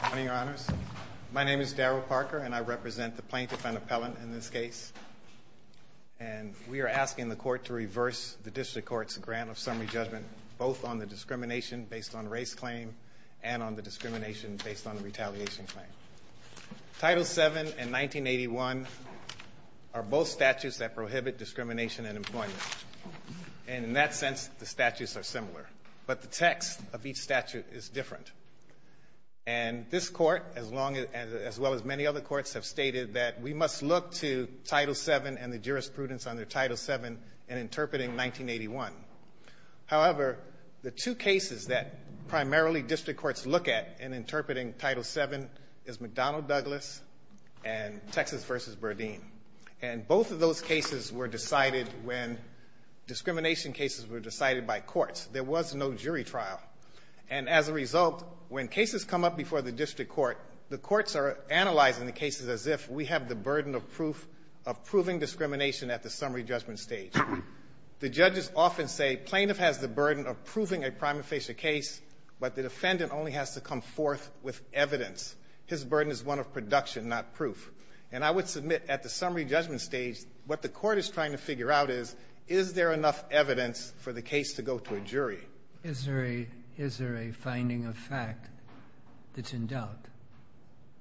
Good morning, Your Honors. My name is Darrell Parker, and I represent the plaintiff and appellant in this case. And we are asking the Court to reverse the District Court's grant of summary judgment, both on the discrimination based on race claim and on the discrimination based on the retaliation claim. Title VII and 1981 are both statutes that prohibit discrimination and employment. And in that sense, the statutes are similar. But the text of each statute is different. And this Court, as well as many other courts, have stated that we must look to Title VII and the jurisprudence under Title VII in interpreting 1981. However, the two cases that primarily District Courts look at in interpreting Title VII is McDonnell-Douglas and Texas v. Berdeen. And both of those cases were decided when discrimination cases were decided. As a result, when cases come up before the District Court, the courts are analyzing the cases as if we have the burden of proof of proving discrimination at the summary judgment stage. The judges often say plaintiff has the burden of proving a prima facie case, but the defendant only has to come forth with evidence. His burden is one of production, not proof. And I would submit at the summary judgment stage, what the Court is trying to figure out is, is there enough evidence for the case to go to a jury? Is there a finding of fact that's in doubt?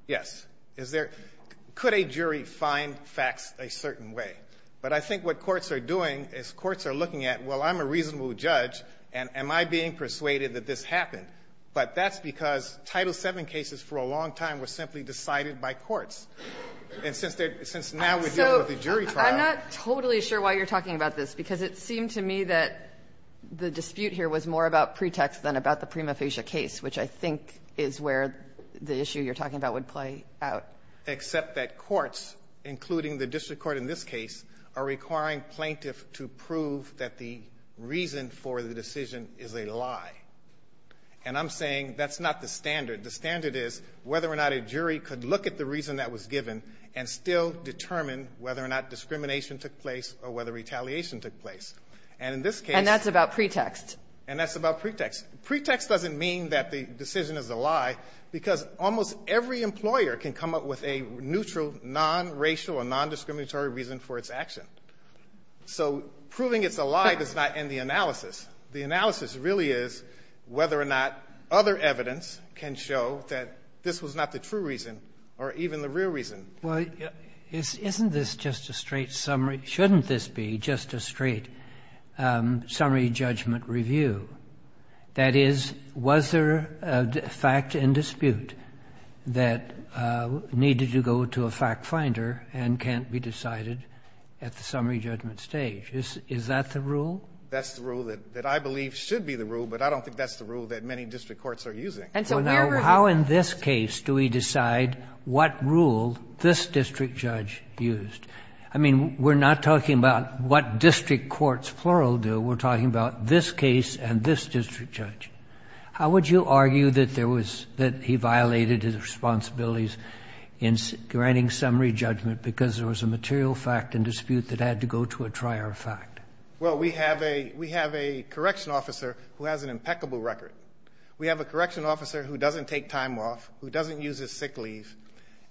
Yes. Is there — could a jury find facts a certain way? But I think what courts are doing is courts are looking at, well, I'm a reasonable judge, and am I being persuaded that this happened? But that's because Title VII cases for a long time were simply decided by courts. And since they're — since now we're dealing with a jury trial — I'm not totally sure why you're talking about this, because it seemed to me that the dispute here was more about pretext than about the prima facie case, which I think is where the issue you're talking about would play out. Except that courts, including the District Court in this case, are requiring plaintiff to prove that the reason for the decision is a lie. And I'm saying that's not the standard. The standard is whether or not a jury could look at the reason that was given and still determine whether or not discrimination took place or whether retaliation took place. And in this case — And that's about pretext. And that's about pretext. Pretext doesn't mean that the decision is a lie, because almost every employer can come up with a neutral, non-racial or non-discriminatory reason for its action. So proving it's a lie does not end the analysis. The analysis really is whether or not other evidence can show that this was not the true reason or even the real reason. Well, isn't this just a straight summary? Shouldn't this be just a straight summary judgment review? That is, was there a fact in dispute that needed to go to a fact finder and can't be decided at the summary judgment stage? Is that the rule? That's the rule that I believe should be the rule, but I don't think that's the rule that many district courts are using. Well, now, how in this case do we decide what rule this district judge used? I mean, we're not talking about what district courts plural do. We're talking about this case and this district judge. How would you argue that there was — that he violated his responsibilities in granting summary judgment because there was a material fact in dispute that had to go to a trier fact? Well, we have a — we have a correction officer who has an impeccable record. We have a correction officer who doesn't take time off, who doesn't use his sick leave,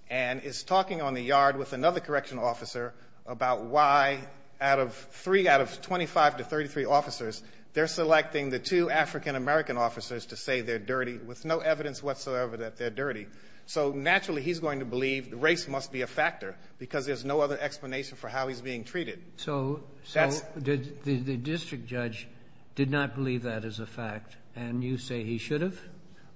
and is talking on the yard with another correction officer about why out of three — out of 25 to 33 officers, they're selecting the two African-American officers to say they're dirty with no evidence whatsoever that they're dirty. So naturally, he's going to believe race must be a factor because there's no other explanation for how he's being treated. So — That's —— so did — the district judge did not believe that as a fact, and you say he should have?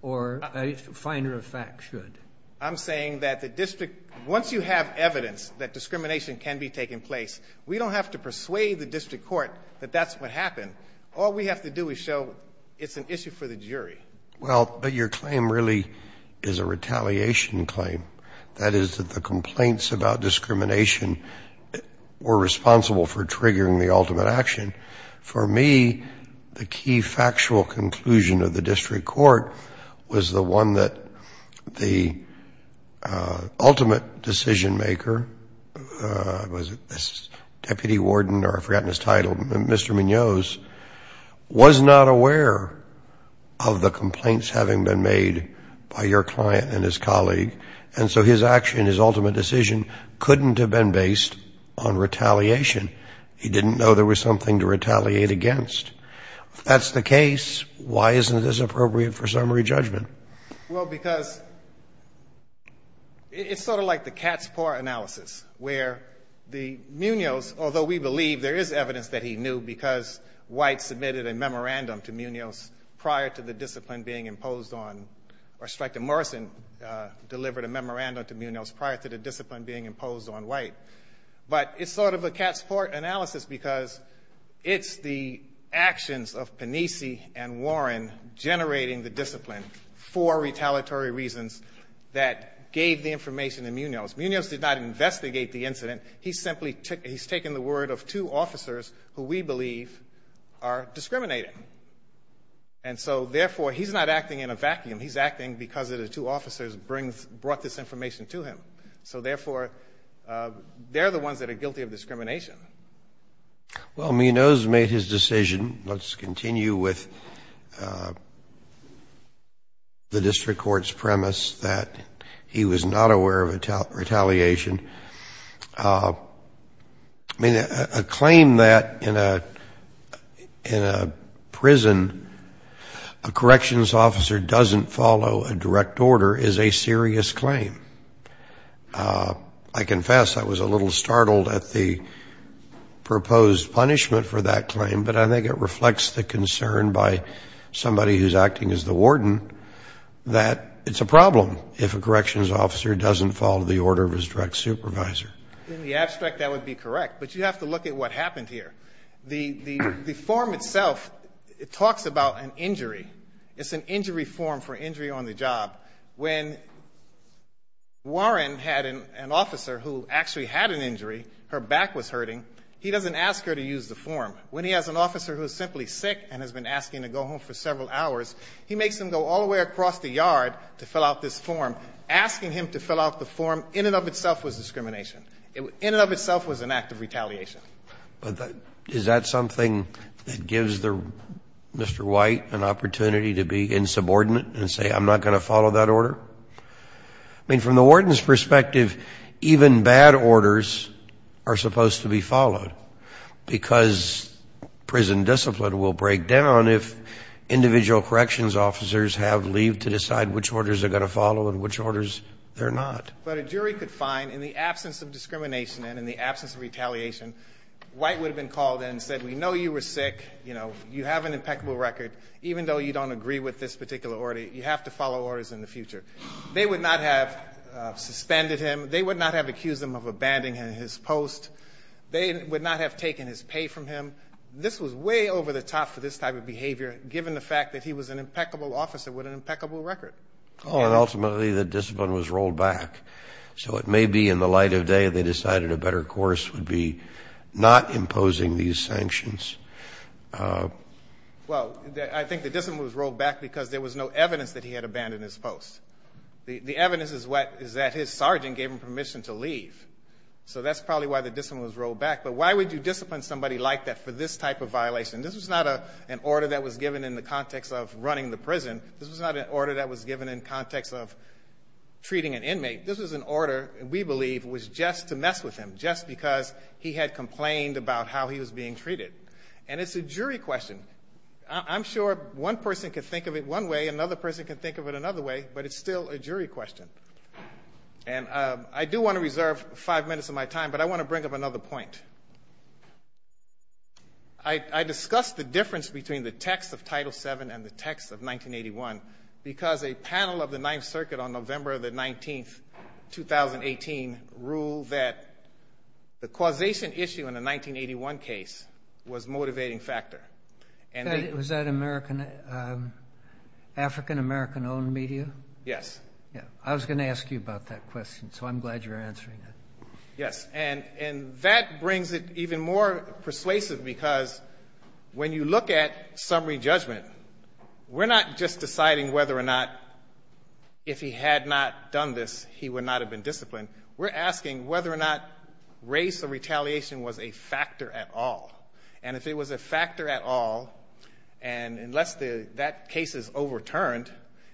Or a finder of fact should? I'm saying that the district — once you have evidence that discrimination can be taken place, we don't have to persuade the district court that that's what happened. All we have to do is show it's an issue for the jury. Well, but your claim really is a retaliation claim. That is, that the complaints about discrimination were responsible for triggering the ultimate action. For me, the key factual conclusion of the district court was the one that the ultimate decision maker — was it this deputy warden, or I've forgotten his title — Mr. Munoz, was not aware of the complaints having been made by your client and his colleague. And so his action, his ultimate decision, couldn't have been based on retaliation. He didn't know there was something to retaliate against. If that's the case, why isn't it as appropriate for summary judgment? Well, because it's sort of like the cat's paw analysis, where the — Munoz, although we believe there is evidence that he knew because White submitted a memorandum to Munoz prior to the discipline being imposed on — or Streik to Morrison delivered a memorandum to Munoz prior to the discipline being imposed on White. But it's sort of the cat's paw analysis because it's the actions of Panisi and Warren generating the discipline for retaliatory reasons that gave the information to Munoz. Munoz did not investigate the incident. He simply — he's taken the word of two officers who we believe are discriminating. And so therefore, he's not acting in a vacuum. He's acting because the two officers brought this information to him. So therefore, they're the two officers who are discriminating. Well, Munoz made his decision. Let's continue with the district court's premise that he was not aware of retaliation. I mean, a claim that in a prison, a corrections officer doesn't follow a direct order is a serious claim. I confess I was a little startled at the proposed punishment for that claim, but I think it reflects the concern by somebody who's acting as the warden that it's a problem if a corrections officer doesn't follow the order of his direct supervisor. In the abstract, that would be correct. But you have to look at what happened here. The form itself, it talks about an injury. It's an injury form for injury on the job. When Warren had an officer who actually had an injury, her back was hurting, he doesn't ask her to use the form. When he has an officer who is simply sick and has been asking to go home for several hours, he makes him go all the way across the yard to fill out this form, asking him to fill out the form. In and of itself was discrimination. In and of itself was an act of retaliation. But is that something that gives Mr. White an opportunity to be insubordinate and say, I'm not going to follow that order? I mean, from the warden's perspective, even bad orders are supposed to be followed, because prison discipline will break down if individual corrections officers have leave to decide which orders they're going to follow and which orders they're not. But a jury could find, in the absence of discrimination and in the absence of retaliation, White would have been called in and said, we know you were sick. You have an impeccable record. Even though you don't agree with this particular order, you have to follow orders in the future. They would not have suspended him. They would not have accused him of abandoning his post. They would not have taken his pay from him. This was way over the top for this type of behavior, given the fact that he was an impeccable officer with an impeccable record. Ultimately, the discipline was rolled back. So it may be, in the light of day, they decided a better course would be not imposing these sanctions. Well, I think the discipline was rolled back because there was no evidence that he had abandoned his post. The evidence is that his sergeant gave him permission to leave. So that's probably why the discipline was rolled back. But why would you discipline somebody like that for this type of violation? This was not an order that was given in the context of running the prison. This was not an order that was given in the context of treating an inmate. This was an order, we believe, was just to mess with him, just because he had complained about how he was being treated. And it's a jury question. I'm sure one person can think of it one way, another person can think of it another way, but it's still a jury question. And I do want to reserve five minutes of my time, but I want to bring up another point. I discussed the difference between the text of Title VII and the text of the Ninth Circuit on November the 19th, 2018, ruled that the causation issue in the 1981 case was a motivating factor. Was that African-American-owned media? Yes. I was going to ask you about that question, so I'm glad you're answering it. Yes. And that brings it even more persuasive because when you look at summary judgment, we're not just deciding whether or not if he had not done this, he would not have been disciplined. We're asking whether or not race or retaliation was a factor at all. And if it was a factor at all, and unless that case is overturned,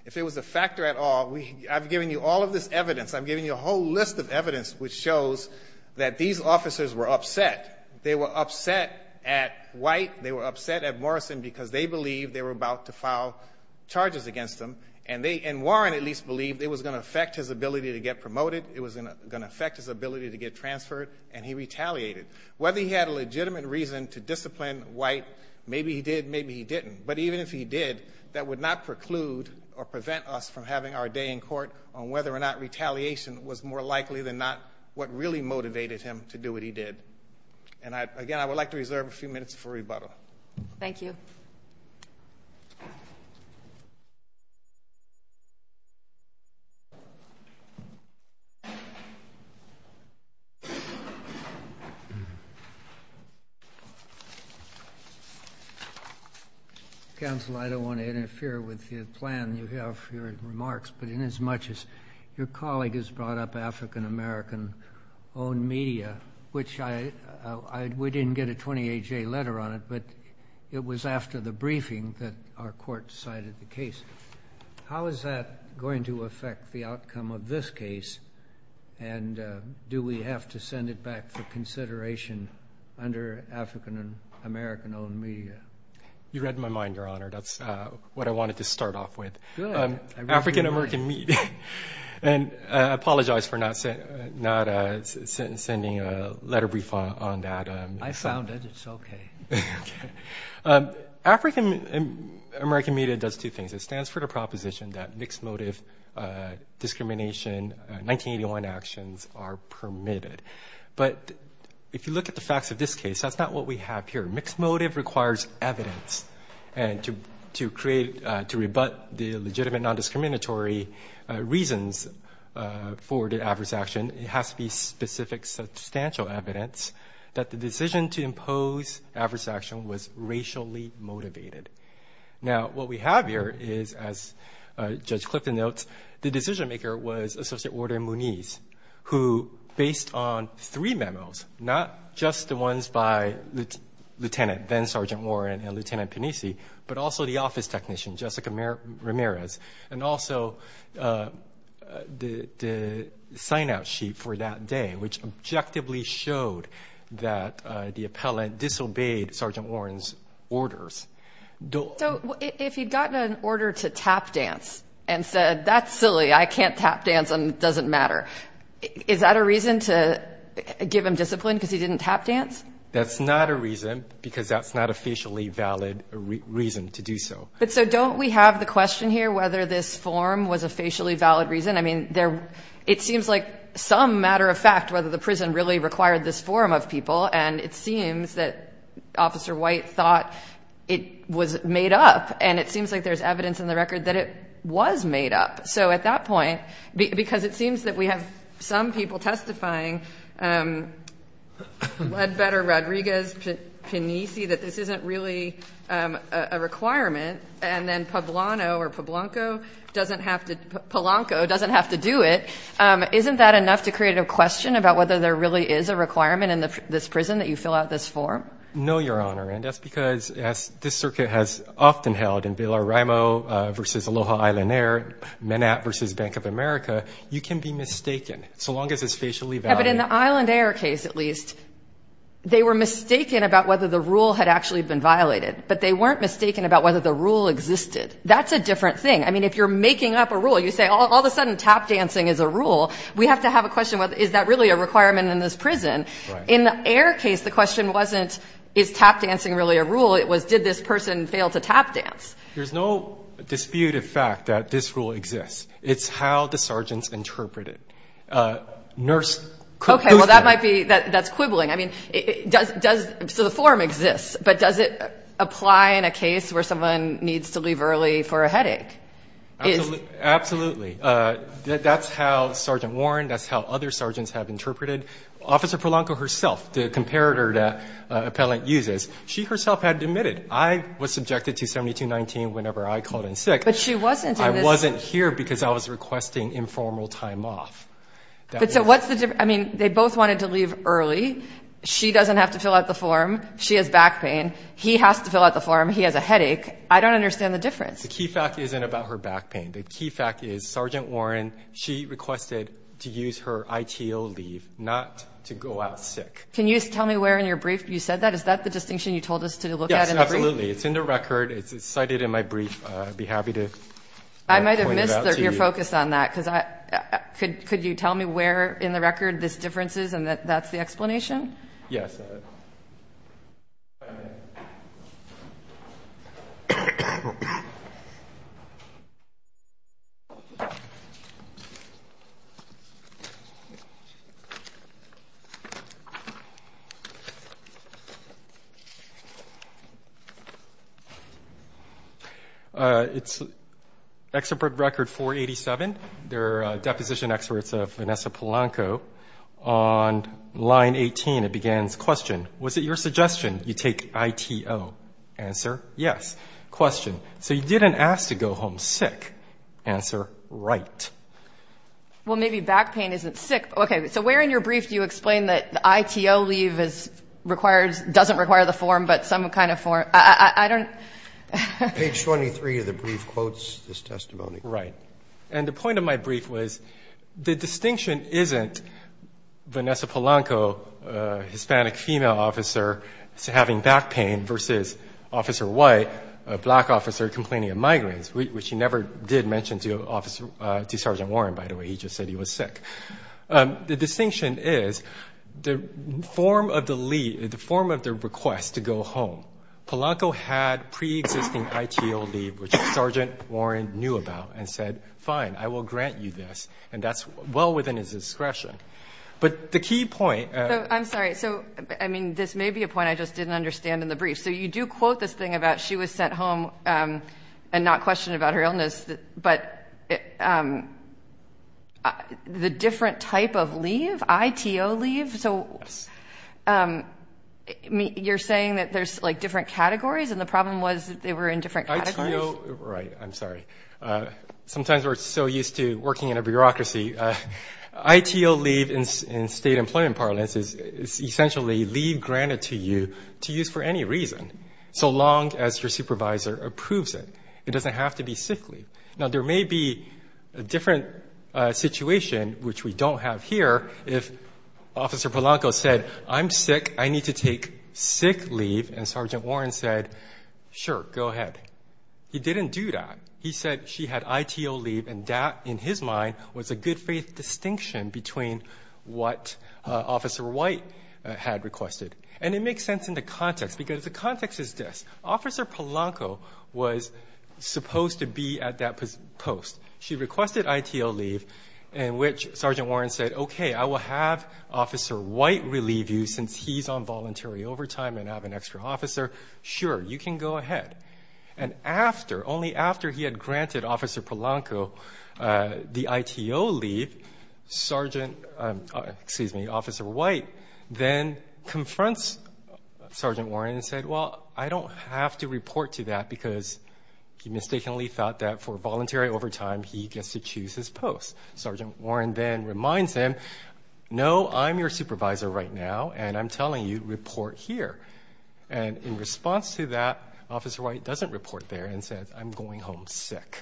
if it was a factor at all, I've given you all of this evidence, I've given you a whole list of evidence which shows that these officers were upset. They were upset at White, they were upset at Morrison because they believed they were about to file charges against them, and Warren at least believed it was going to affect his ability to get promoted, it was going to affect his ability to get transferred, and he retaliated. Whether he had a legitimate reason to discipline White, maybe he did, maybe he didn't. But even if he did, that would not preclude or prevent us from having our day in court on whether or not retaliation was more likely than not what really motivated him to do what he did. And again, I would like to reserve a few minutes for rebuttal. Thank you. Counsel, I don't want to interfere with the plan you have for your remarks, but in as much, we didn't get a 28-J letter on it, but it was after the briefing that our court cited the case. How is that going to affect the outcome of this case, and do we have to send it back for consideration under African-American-owned media? You read my mind, Your Honor. That's what I wanted to start off with. Good. African-American media. And I apologize for not sending a letter brief on that. I found it. It's okay. African-American media does two things. It stands for the proposition that mixed-motive discrimination 1981 actions are permitted. But if you look at the facts of this case, that's not what we have here. Mixed-motive requires evidence to create, to rebut the legitimate non-discriminatory reasons for the adverse action. It has to be specific substantial evidence that the decision to impose adverse action was racially motivated. Now, what we have here is, as Judge Clifton notes, the decision-maker was Associate Order in Muniz, who, based on three memos, not just the ones by Lieutenant, then was, and also the sign-out sheet for that day, which objectively showed that the appellant disobeyed Sergeant Warren's orders. So if he'd gotten an order to tap dance and said, that's silly, I can't tap dance and it doesn't matter, is that a reason to give him discipline because he didn't tap dance? That's not a reason because that's not a facially valid reason to do so. But so don't we have the question here whether this form was a facially valid reason? I mean, it seems like some matter of fact whether the prison really required this form of people, and it seems that Officer White thought it was made up, and it seems like there's evidence in the record that it was made up. So at that point, because it seems that we have some people testifying, Ledbetter, Rodriguez, Panisi, that this isn't really a requirement, and then Pablano or Pablanco doesn't have to do it, isn't that enough to create a question about whether there really is a requirement in this prison that you fill out this form? No, Your Honor, and that's because, as this circuit has often held in Villaraimo versus Aloha Island Air, Manat versus Bank of America, you can be mistaken, so long as it's facially valid. But in the Island Air case, at least, they were mistaken about whether the rule had actually been violated, but they weren't mistaken about whether the rule existed. That's a different thing. I mean, if you're making up a rule, you say, all of a sudden tap dancing is a rule, we have to have a question, is that really a requirement in this prison? In the Air case, the question wasn't, is tap dancing really a rule? It was, did this person fail to tap dance? There's no dispute of fact that this rule exists. It's how the sergeants interpreted it. Okay, well, that might be, that's quibbling. I mean, does, so the form exists, but does it apply in a case where someone needs to leave early for a headache? Absolutely. That's how Sergeant Warren, that's how other sergeants have interpreted. Officer Prolanco herself, the comparator that Appellant uses, she herself had admitted, I was subjected to 7219 whenever I called in sick. But she wasn't in this. I wasn't here because I was requesting informal time off. But so what's the difference, I mean, they both wanted to leave early. She doesn't have to fill out the form. She has back pain. He has to fill out the form. He has a headache. I don't understand the difference. The key fact isn't about her back pain. The key fact is Sergeant Warren, she requested to use her ITO leave, not to go out sick. Can you tell me where in your brief you said that? Is that the distinction you told us to look at in the brief? Yes, absolutely. It's in the record. It's cited in my brief. I'd be happy to point it out to you. I might have missed your focus on that. Could you tell me where in the record this difference is and that that's the explanation? Yes. Five minutes. It's expert record 487. They're deposition experts of Vanessa Polanco. On line 18, it begins, question, was it your suggestion you take ITO? Answer, yes. Question, so you didn't ask to go home sick. Answer, right. Well, maybe back pain isn't sick. Okay. So where in your brief do you explain that the ITO leave doesn't require the form but some kind of form? I don't. Page 23 of the brief quotes this testimony. Right. And the point of my brief was the distinction isn't Vanessa Polanco, a Hispanic female officer, having back pain versus Officer White, a black officer complaining of migraines, which he never did mention to Sergeant Warren, by the way. He just said he was sick. The distinction is the form of the leave, the form of the request to go home. Polanco had pre-existing ITO leave, which Sergeant Warren knew about and said, fine, I will grant you this. And that's well within his discretion. But the key point. I'm sorry. So, I mean, this may be a point I just didn't understand in the brief. So you do quote this thing about she was sent home and not questioned about her illness, but the different type of leave, ITO leave. So you're saying that there's like different categories and the problem was they were in different categories? Right. I'm sorry. Sometimes we're so used to working in a bureaucracy. ITO leave in state employment parlance is essentially leave granted to you to use for any reason, so long as your supervisor approves it. It doesn't have to be sick leave. Now, there may be a different situation, which we don't have here, if Officer Polanco said, I'm sick. I need to take sick leave. And Sergeant Warren said, sure, go ahead. He didn't do that. He said she had ITO leave and that, in his mind, was a good faith distinction between what Officer White had requested. And it makes sense in the context because the context is this. Officer Polanco was supposed to be at that post. She requested ITO leave in which Sergeant Warren said, okay, I will have Officer White relieve you since he's on voluntary overtime and have an extra officer. Sure, you can go ahead. And after, only after he had granted Officer Polanco the ITO leave, Sergeant, excuse me, Officer White then confronts Sergeant Warren and said, well, I don't have to report to that because he mistakenly thought that for voluntary overtime, he gets to choose his post. Sergeant Warren then reminds him, no, I'm your supervisor right now and I'm telling you, report here. And in response to that, Officer White doesn't report there and says, I'm going home sick.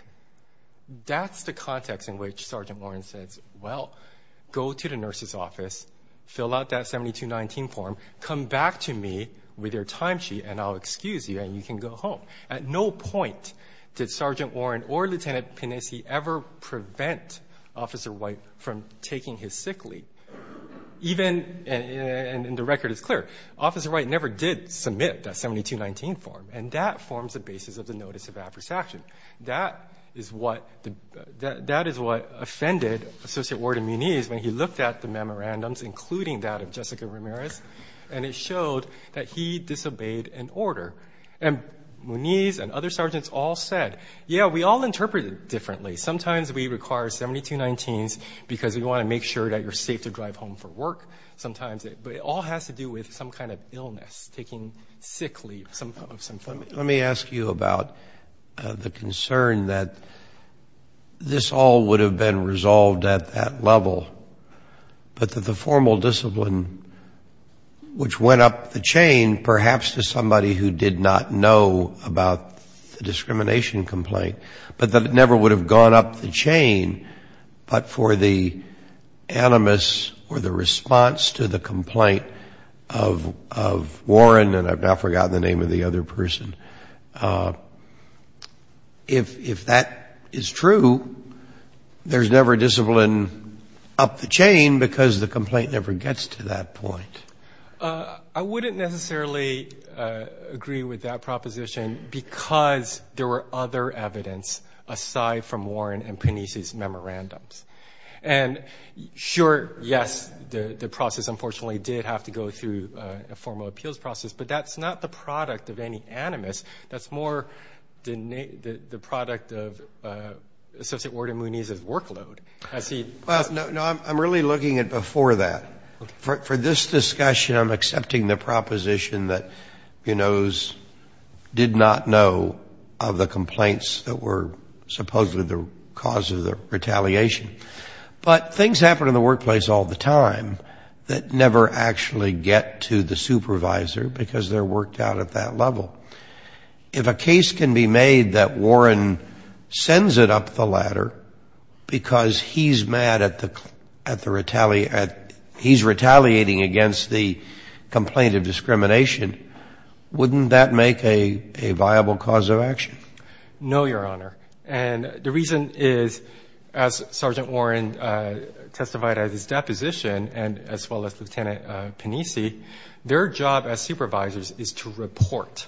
That's the context in which Sergeant Warren says, well, go to the nurse's office, fill out that 7219 form, come back to me with your time sheet and I'll excuse you and you can go home. At no point did Sergeant Warren or Lieutenant Pinesi ever prevent Officer White from taking his sick leave. Even, and the record is clear, Officer White never did submit that 7219 form and that forms the basis of the notice of adverse action. That is what offended Associate Ward and Muniz when he looked at the memorandums, including that of Jessica Ramirez, and it showed that he disobeyed an order. And Muniz and other sergeants all said, yeah, we all interpret it differently. Sometimes we require 7219s because we want to make sure that you're safe to drive home for work. Sometimes it all has to do with some kind of illness, taking sick leave of some form. Let me ask you about the concern that this all would have been resolved at that level, but that the formal discipline, which went up the chain, perhaps to somebody who did not know about the discrimination complaint, but that it never would have gone up the chain, but for the animus or the response to the complaint of Warren and I've now forgotten the name of the other person. If that is true, there's never discipline up the chain because the complaint never gets to that point. I wouldn't necessarily agree with that proposition because there were other evidence aside from Warren and Pernice's memorandums. And sure, yes, the process unfortunately did have to go through a formal appeals process, but that's not the product of any animus. That's more the product of Associate Ward and Muniz's workload. I see. No, I'm really looking at before that. For this discussion, I'm accepting the proposition that Buenos did not know of the complaints that were supposedly the cause of the retaliation. But things happen in the workplace all the time that never actually get to the supervisor because they're worked out at that level. If a case can be made that Warren sends it up the ladder because he's mad at the retaliation, he's retaliating against the complaint of discrimination, wouldn't that make a viable cause of action? No, Your Honor. And the reason is, as Sergeant Warren testified at his deposition and as well as Lieutenant Pernice, their job as supervisors is to report,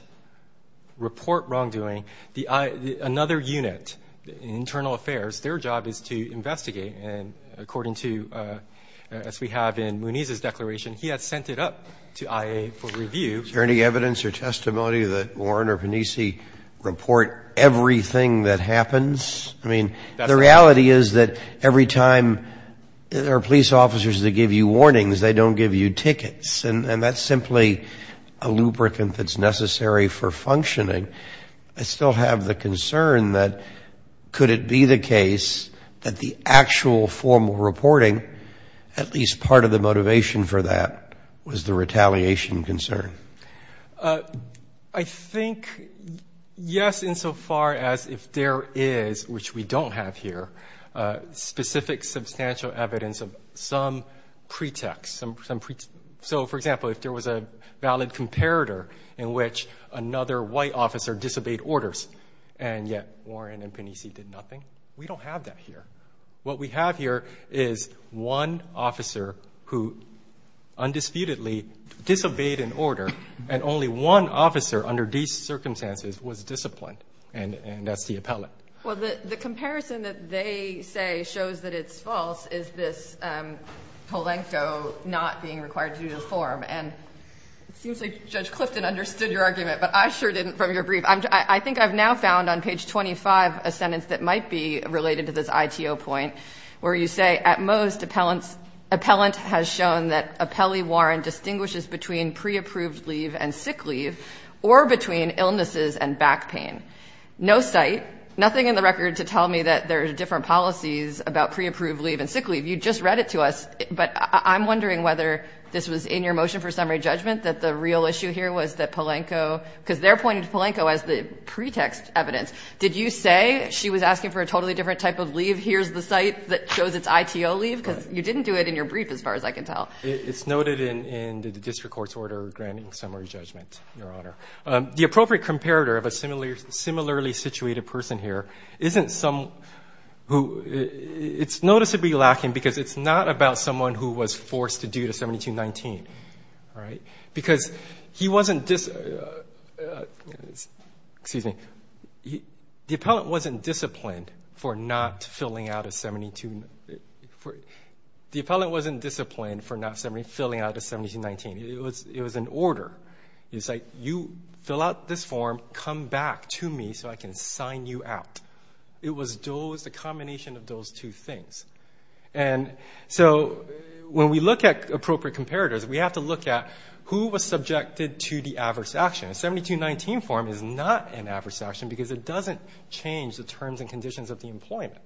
report wrongdoing. Another unit, Internal Affairs, their job is to investigate. And according to, as we have in Muniz's declaration, he had sent it up to IA for review. Is there any evidence or testimony that Warren or Pernice report everything that happens? I mean, the reality is that every time there are police officers that give you warnings, they don't give you tickets. And that's simply a lubricant that's necessary for functioning. I still have the concern that could it be the case that the actual formal reporting, at least part of the motivation for that, was the retaliation concern? I think, yes, insofar as if there is, which we don't have here, specific substantial evidence of some pretext. So, for example, if there was a valid comparator in which another white officer disobeyed orders and yet Warren and Pernice did nothing, we don't have that here. What we have here is one officer who undisputedly disobeyed an order and only one officer under these circumstances was disciplined. And that's the appellate. Well, the comparison that they say shows that it's false is this polento not being required to do the form. And it seems like Judge Clifton understood your argument, but I sure didn't from your brief. I think I've now found on page 25 a sentence that might be related to this ITO point where you say, At most, appellant has shown that appellee Warren distinguishes between pre-approved leave and sick leave or between illnesses and back pain. No site, nothing in the record to tell me that there are different policies about pre-approved leave and sick leave. You just read it to us, but I'm wondering whether this was in your motion for summary judgment that the real issue here was that polento, because they're pointing to polento as the pretext evidence. Did you say she was asking for a totally different type of leave? Here's the site that shows its ITO leave? Because you didn't do it in your brief, as far as I can tell. It's noted in the district court's order granting summary judgment, Your Honor. The appropriate comparator of a similarly situated person here isn't someone who... It's noticeably lacking because it's not about someone who was forced to do the 7219, because he wasn't... Excuse me. The appellant wasn't disciplined for not filling out a 72... The appellant wasn't disciplined for not filling out a 7219. It was an order. It's like, you fill out this form, come back to me, so I can sign you out. It was the combination of those two things. And so, when we look at appropriate comparators, we have to look at who was subjected to the adverse action. A 7219 form is not an adverse action because it doesn't change the terms and conditions of the employment.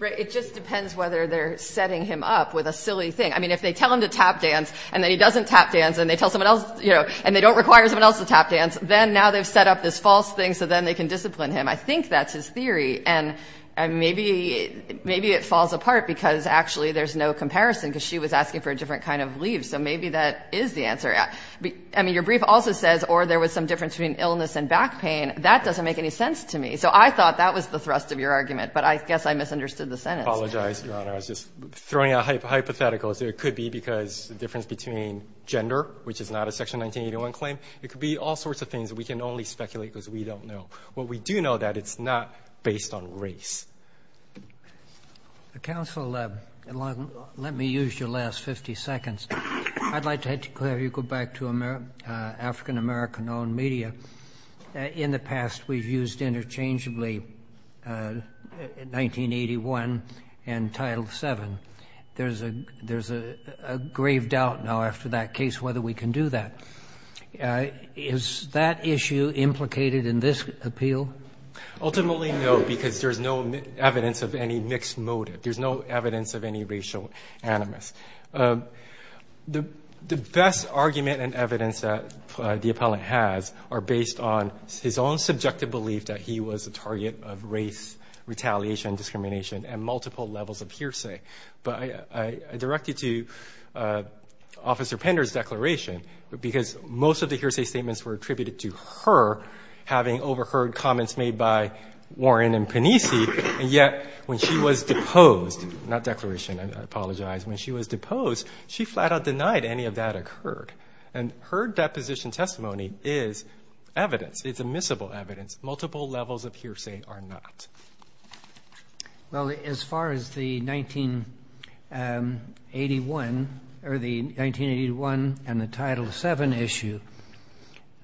It just depends whether they're setting him up with a silly thing. I mean, if they tell him to tap dance and then he doesn't tap dance and they don't require someone else to tap dance, then now they've set up this false thing so then they can discipline him. I think that's his theory. And maybe it falls apart because actually there's no comparison because she was asking for a different kind of leave. So maybe that is the answer. I mean, your brief also says, or there was some difference between illness and back pain. That doesn't make any sense to me. So I thought that was the thrust of your argument, but I guess I misunderstood the sentence. I apologize, Your Honor. I was just throwing out hypotheticals. It could be because there's a difference between gender, which is not a Section 1981 claim. It could be all sorts of things that we can only speculate because we don't know. What we do know is that it's not based on race. Counsel, let me use your last 50 seconds. I'd like to have you go back to African-American-owned media. In the past, we've used interchangeably 1981 and Title VII. There's a grave doubt now after that case whether we can do that. Is that issue implicated in this appeal? Ultimately, no, because there's no evidence of any mixed motive. There's no evidence of any racial animus. The best argument and evidence that the appellant has are based on his own subjective belief that he was a target of race, retaliation, discrimination, and multiple levels of hearsay. But I direct you to Officer Pender's declaration because most of the hearsay statements were attributed to her having overheard comments made by Warren and Panisi. And yet, when she was deposed, not declaration, I apologize. When she was deposed, she flat-out denied any of that occurred. And her deposition testimony is evidence. It's admissible evidence. Multiple levels of hearsay are not. Well, as far as the 1981 or the 1981 and the Title VII issue,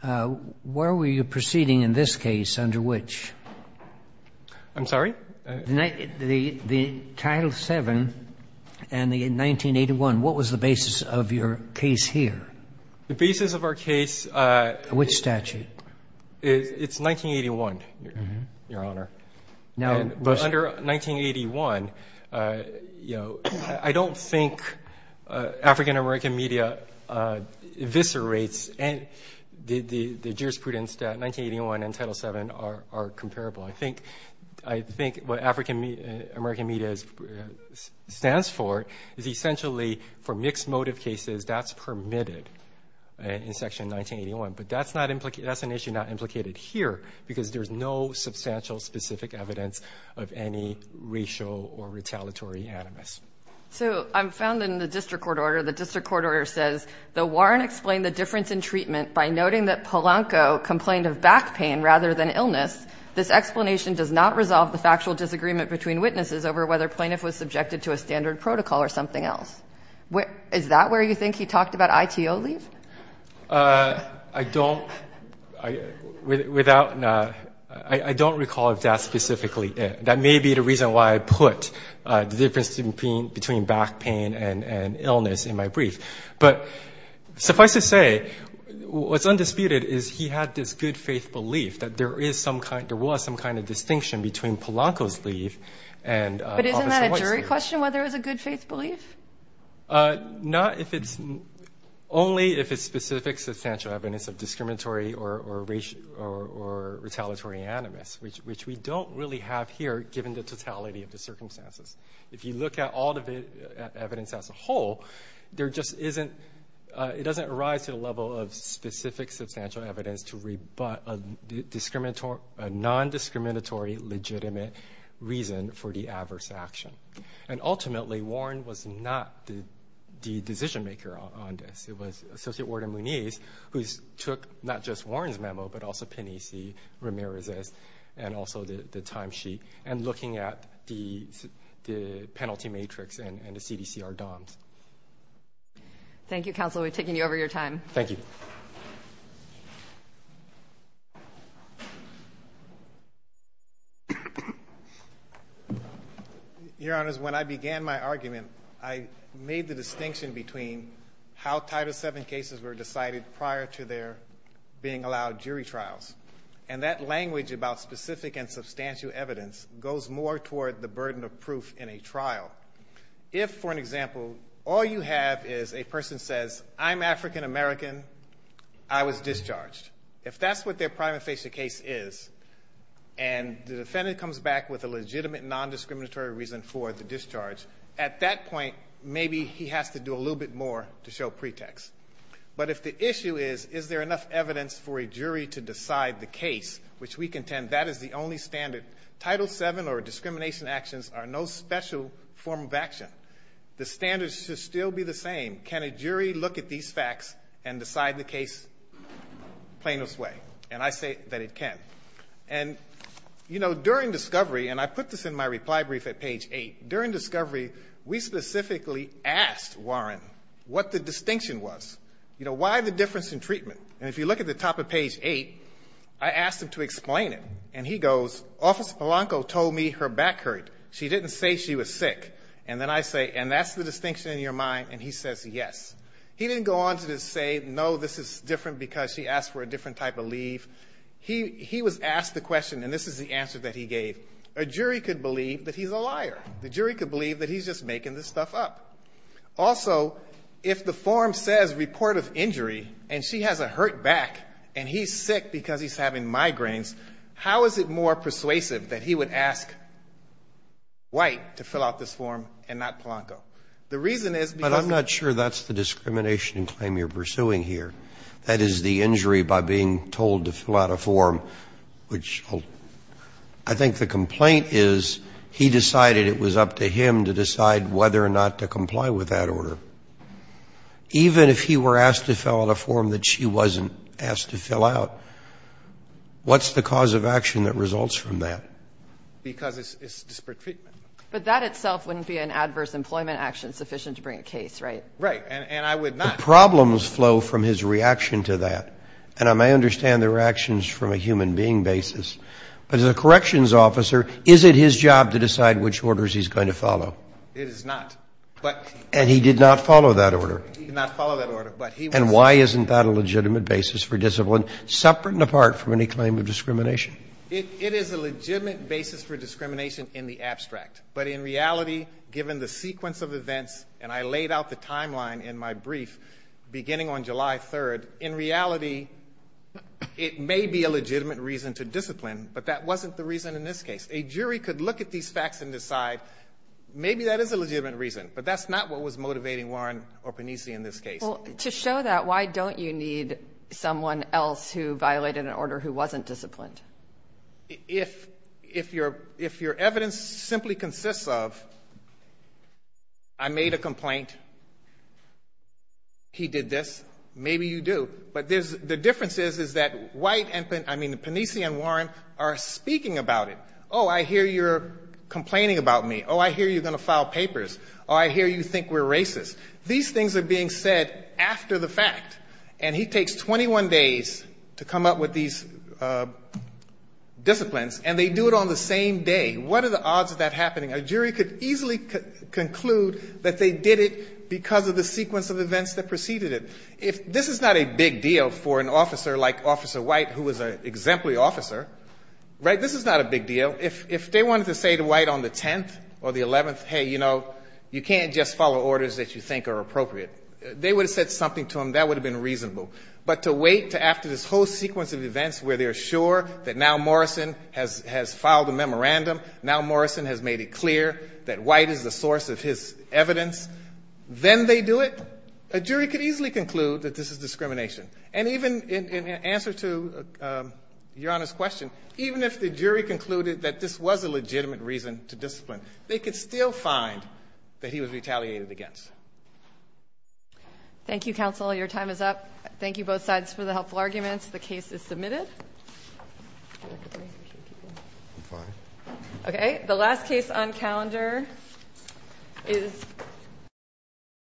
where were you proceeding in this case under which? I'm sorry? The Title VII and the 1981. What was the basis of your case here? The basis of our case Which statute? It's 1981, Your Honor. But under 1981, you know, I don't think African-American media eviscerates the jurisprudence that 1981 and Title VII are comparable. I think what African-American media stands for is essentially for mixed motive cases, that's permitted in Section 1981. But that's an issue not implicated here because there's no substantial specific evidence of any racial or retaliatory animus. So I'm found in the district court order. The district court order says the warrant explained the difference in treatment by noting that Polanco complained of back pain rather than illness. This explanation does not resolve the factual disagreement between witnesses over whether plaintiff was subjected to a standard protocol or something else. Is that where you think he talked about ITO leave? I don't without I don't recall if that's specifically it. That may be the reason why I put the difference between back pain and illness in my brief. But suffice to say what's undisputed is he had this good faith belief that there is some kind there was some kind of distinction between Polanco's leave and Officer White's leave. But isn't that a jury question whether it was a good faith belief? Not if it's only if it's specific substantial evidence of discriminatory or retaliatory animus which we don't really have here given the totality of the circumstances. If you look at all the evidence as a whole there just isn't it doesn't arise to the level of specific substantial evidence to rebut a discriminatory a non-discriminatory legitimate reason for the adverse action. And ultimately Warren was not the the decision maker on this. It was Associate Warren Munez who took not just Warren's memo but also Penici Ramirez's and also the timesheet and looking at the the penalty matrix and the CDC or DOMS. Thank you Counselor we've taken you over your time. Thank you. Your Honors when I began my argument I made the distinction between how Title 7 cases were decided prior to their being allowed jury trials and that language about specific and substantial evidence goes more toward the burden of proof in a trial. If for an example all you have is a person says I'm African-American I was discharged if that's what their prima facie case is and the defendant comes back with a legitimate non-discriminatory reason for the discharge at that point maybe he has to do a little bit more to show pretext. But if the issue is is there enough evidence for a jury to decide the case which we contend that is the only standard Title 7 or discrimination actions are no special form of action. The standards should still be the same. Can a jury look at these facts and decide the case plainest way and I say that it can. And you know during discovery and I put this in my reply brief at page 8 during discovery we specifically asked Warren what the distinction was. You know why the difference in treatment and if you look at the top of page 8 I asked him to explain it and he goes Officer Polanco told me her back hurt she didn't say she was sick and then I say and that's the distinction in your mind and he says yes. He didn't go on to say no this is different because she asked for a different type of leave. He was asked the question and this is the answer that he gave. A jury could believe that he's a liar. The jury could believe that he's just making this stuff up. Also if the form says report of injury and she has a hurt back and he's sick because he's having migraines how is it more persuasive that he would ask White to fill out this form and not Polanco. The reason is because But I'm not sure that's the discrimination claim you're pursuing here. That is the injury by being told to fill out a form which I think the complaint is he decided it was up to him to decide whether or not to comply with that order. Even if he were asked to fill out a form that she wasn't asked to fill out what's the cause of action that results from that? Because it's disparate treatment. But that itself wouldn't be an adverse employment action sufficient to bring a case, right? Right. And I would not The problems flow from his reaction to that and I may understand the reactions from a human being basis but as a corrections officer is it his job to decide which orders he's going to follow? It is not. But And he did not follow that order? He did not follow that order. But he And why isn't that a legitimate basis for discipline separate and apart from any claim of discrimination? It is a legitimate basis for discrimination in the abstract. But in reality given the sequence of events and I laid out the timeline in my brief beginning on July 3rd in reality it may be a legitimate reason to discipline but that wasn't the reason in this case. A jury could look at these facts and decide maybe that is a legitimate reason but that's not what was motivating Warren or Panisi in this case. To show that why don't you need someone else who violated an order who wasn't disciplined? If your evidence simply consists of I made a complaint he did this maybe you do but the difference is that Panisi and Warren are speaking about it. Oh I hear you are going to file papers or think we are racist. These things are being said after the fact. And he takes 21 days to come up with these disciplines and they do it on the same day. What are the odds of that happening? A jury could easily conclude that they did it because of the sequence of events that preceded it. This is not a big deal for an officer like officer White who was an exemplary officer. This is not a big deal for officer like officer was an officer. This is not a big deal for an officer like officer White who was an exemplary officer. Thank you, counsel. Your time is up. Thank you for the helpful submitted. Okay. The last case on calendar is the first case on calendar. The first case on calendar is the first case on the third case on calendar. The fourthest case on calendar is the fourth case. The fifth case is the seventh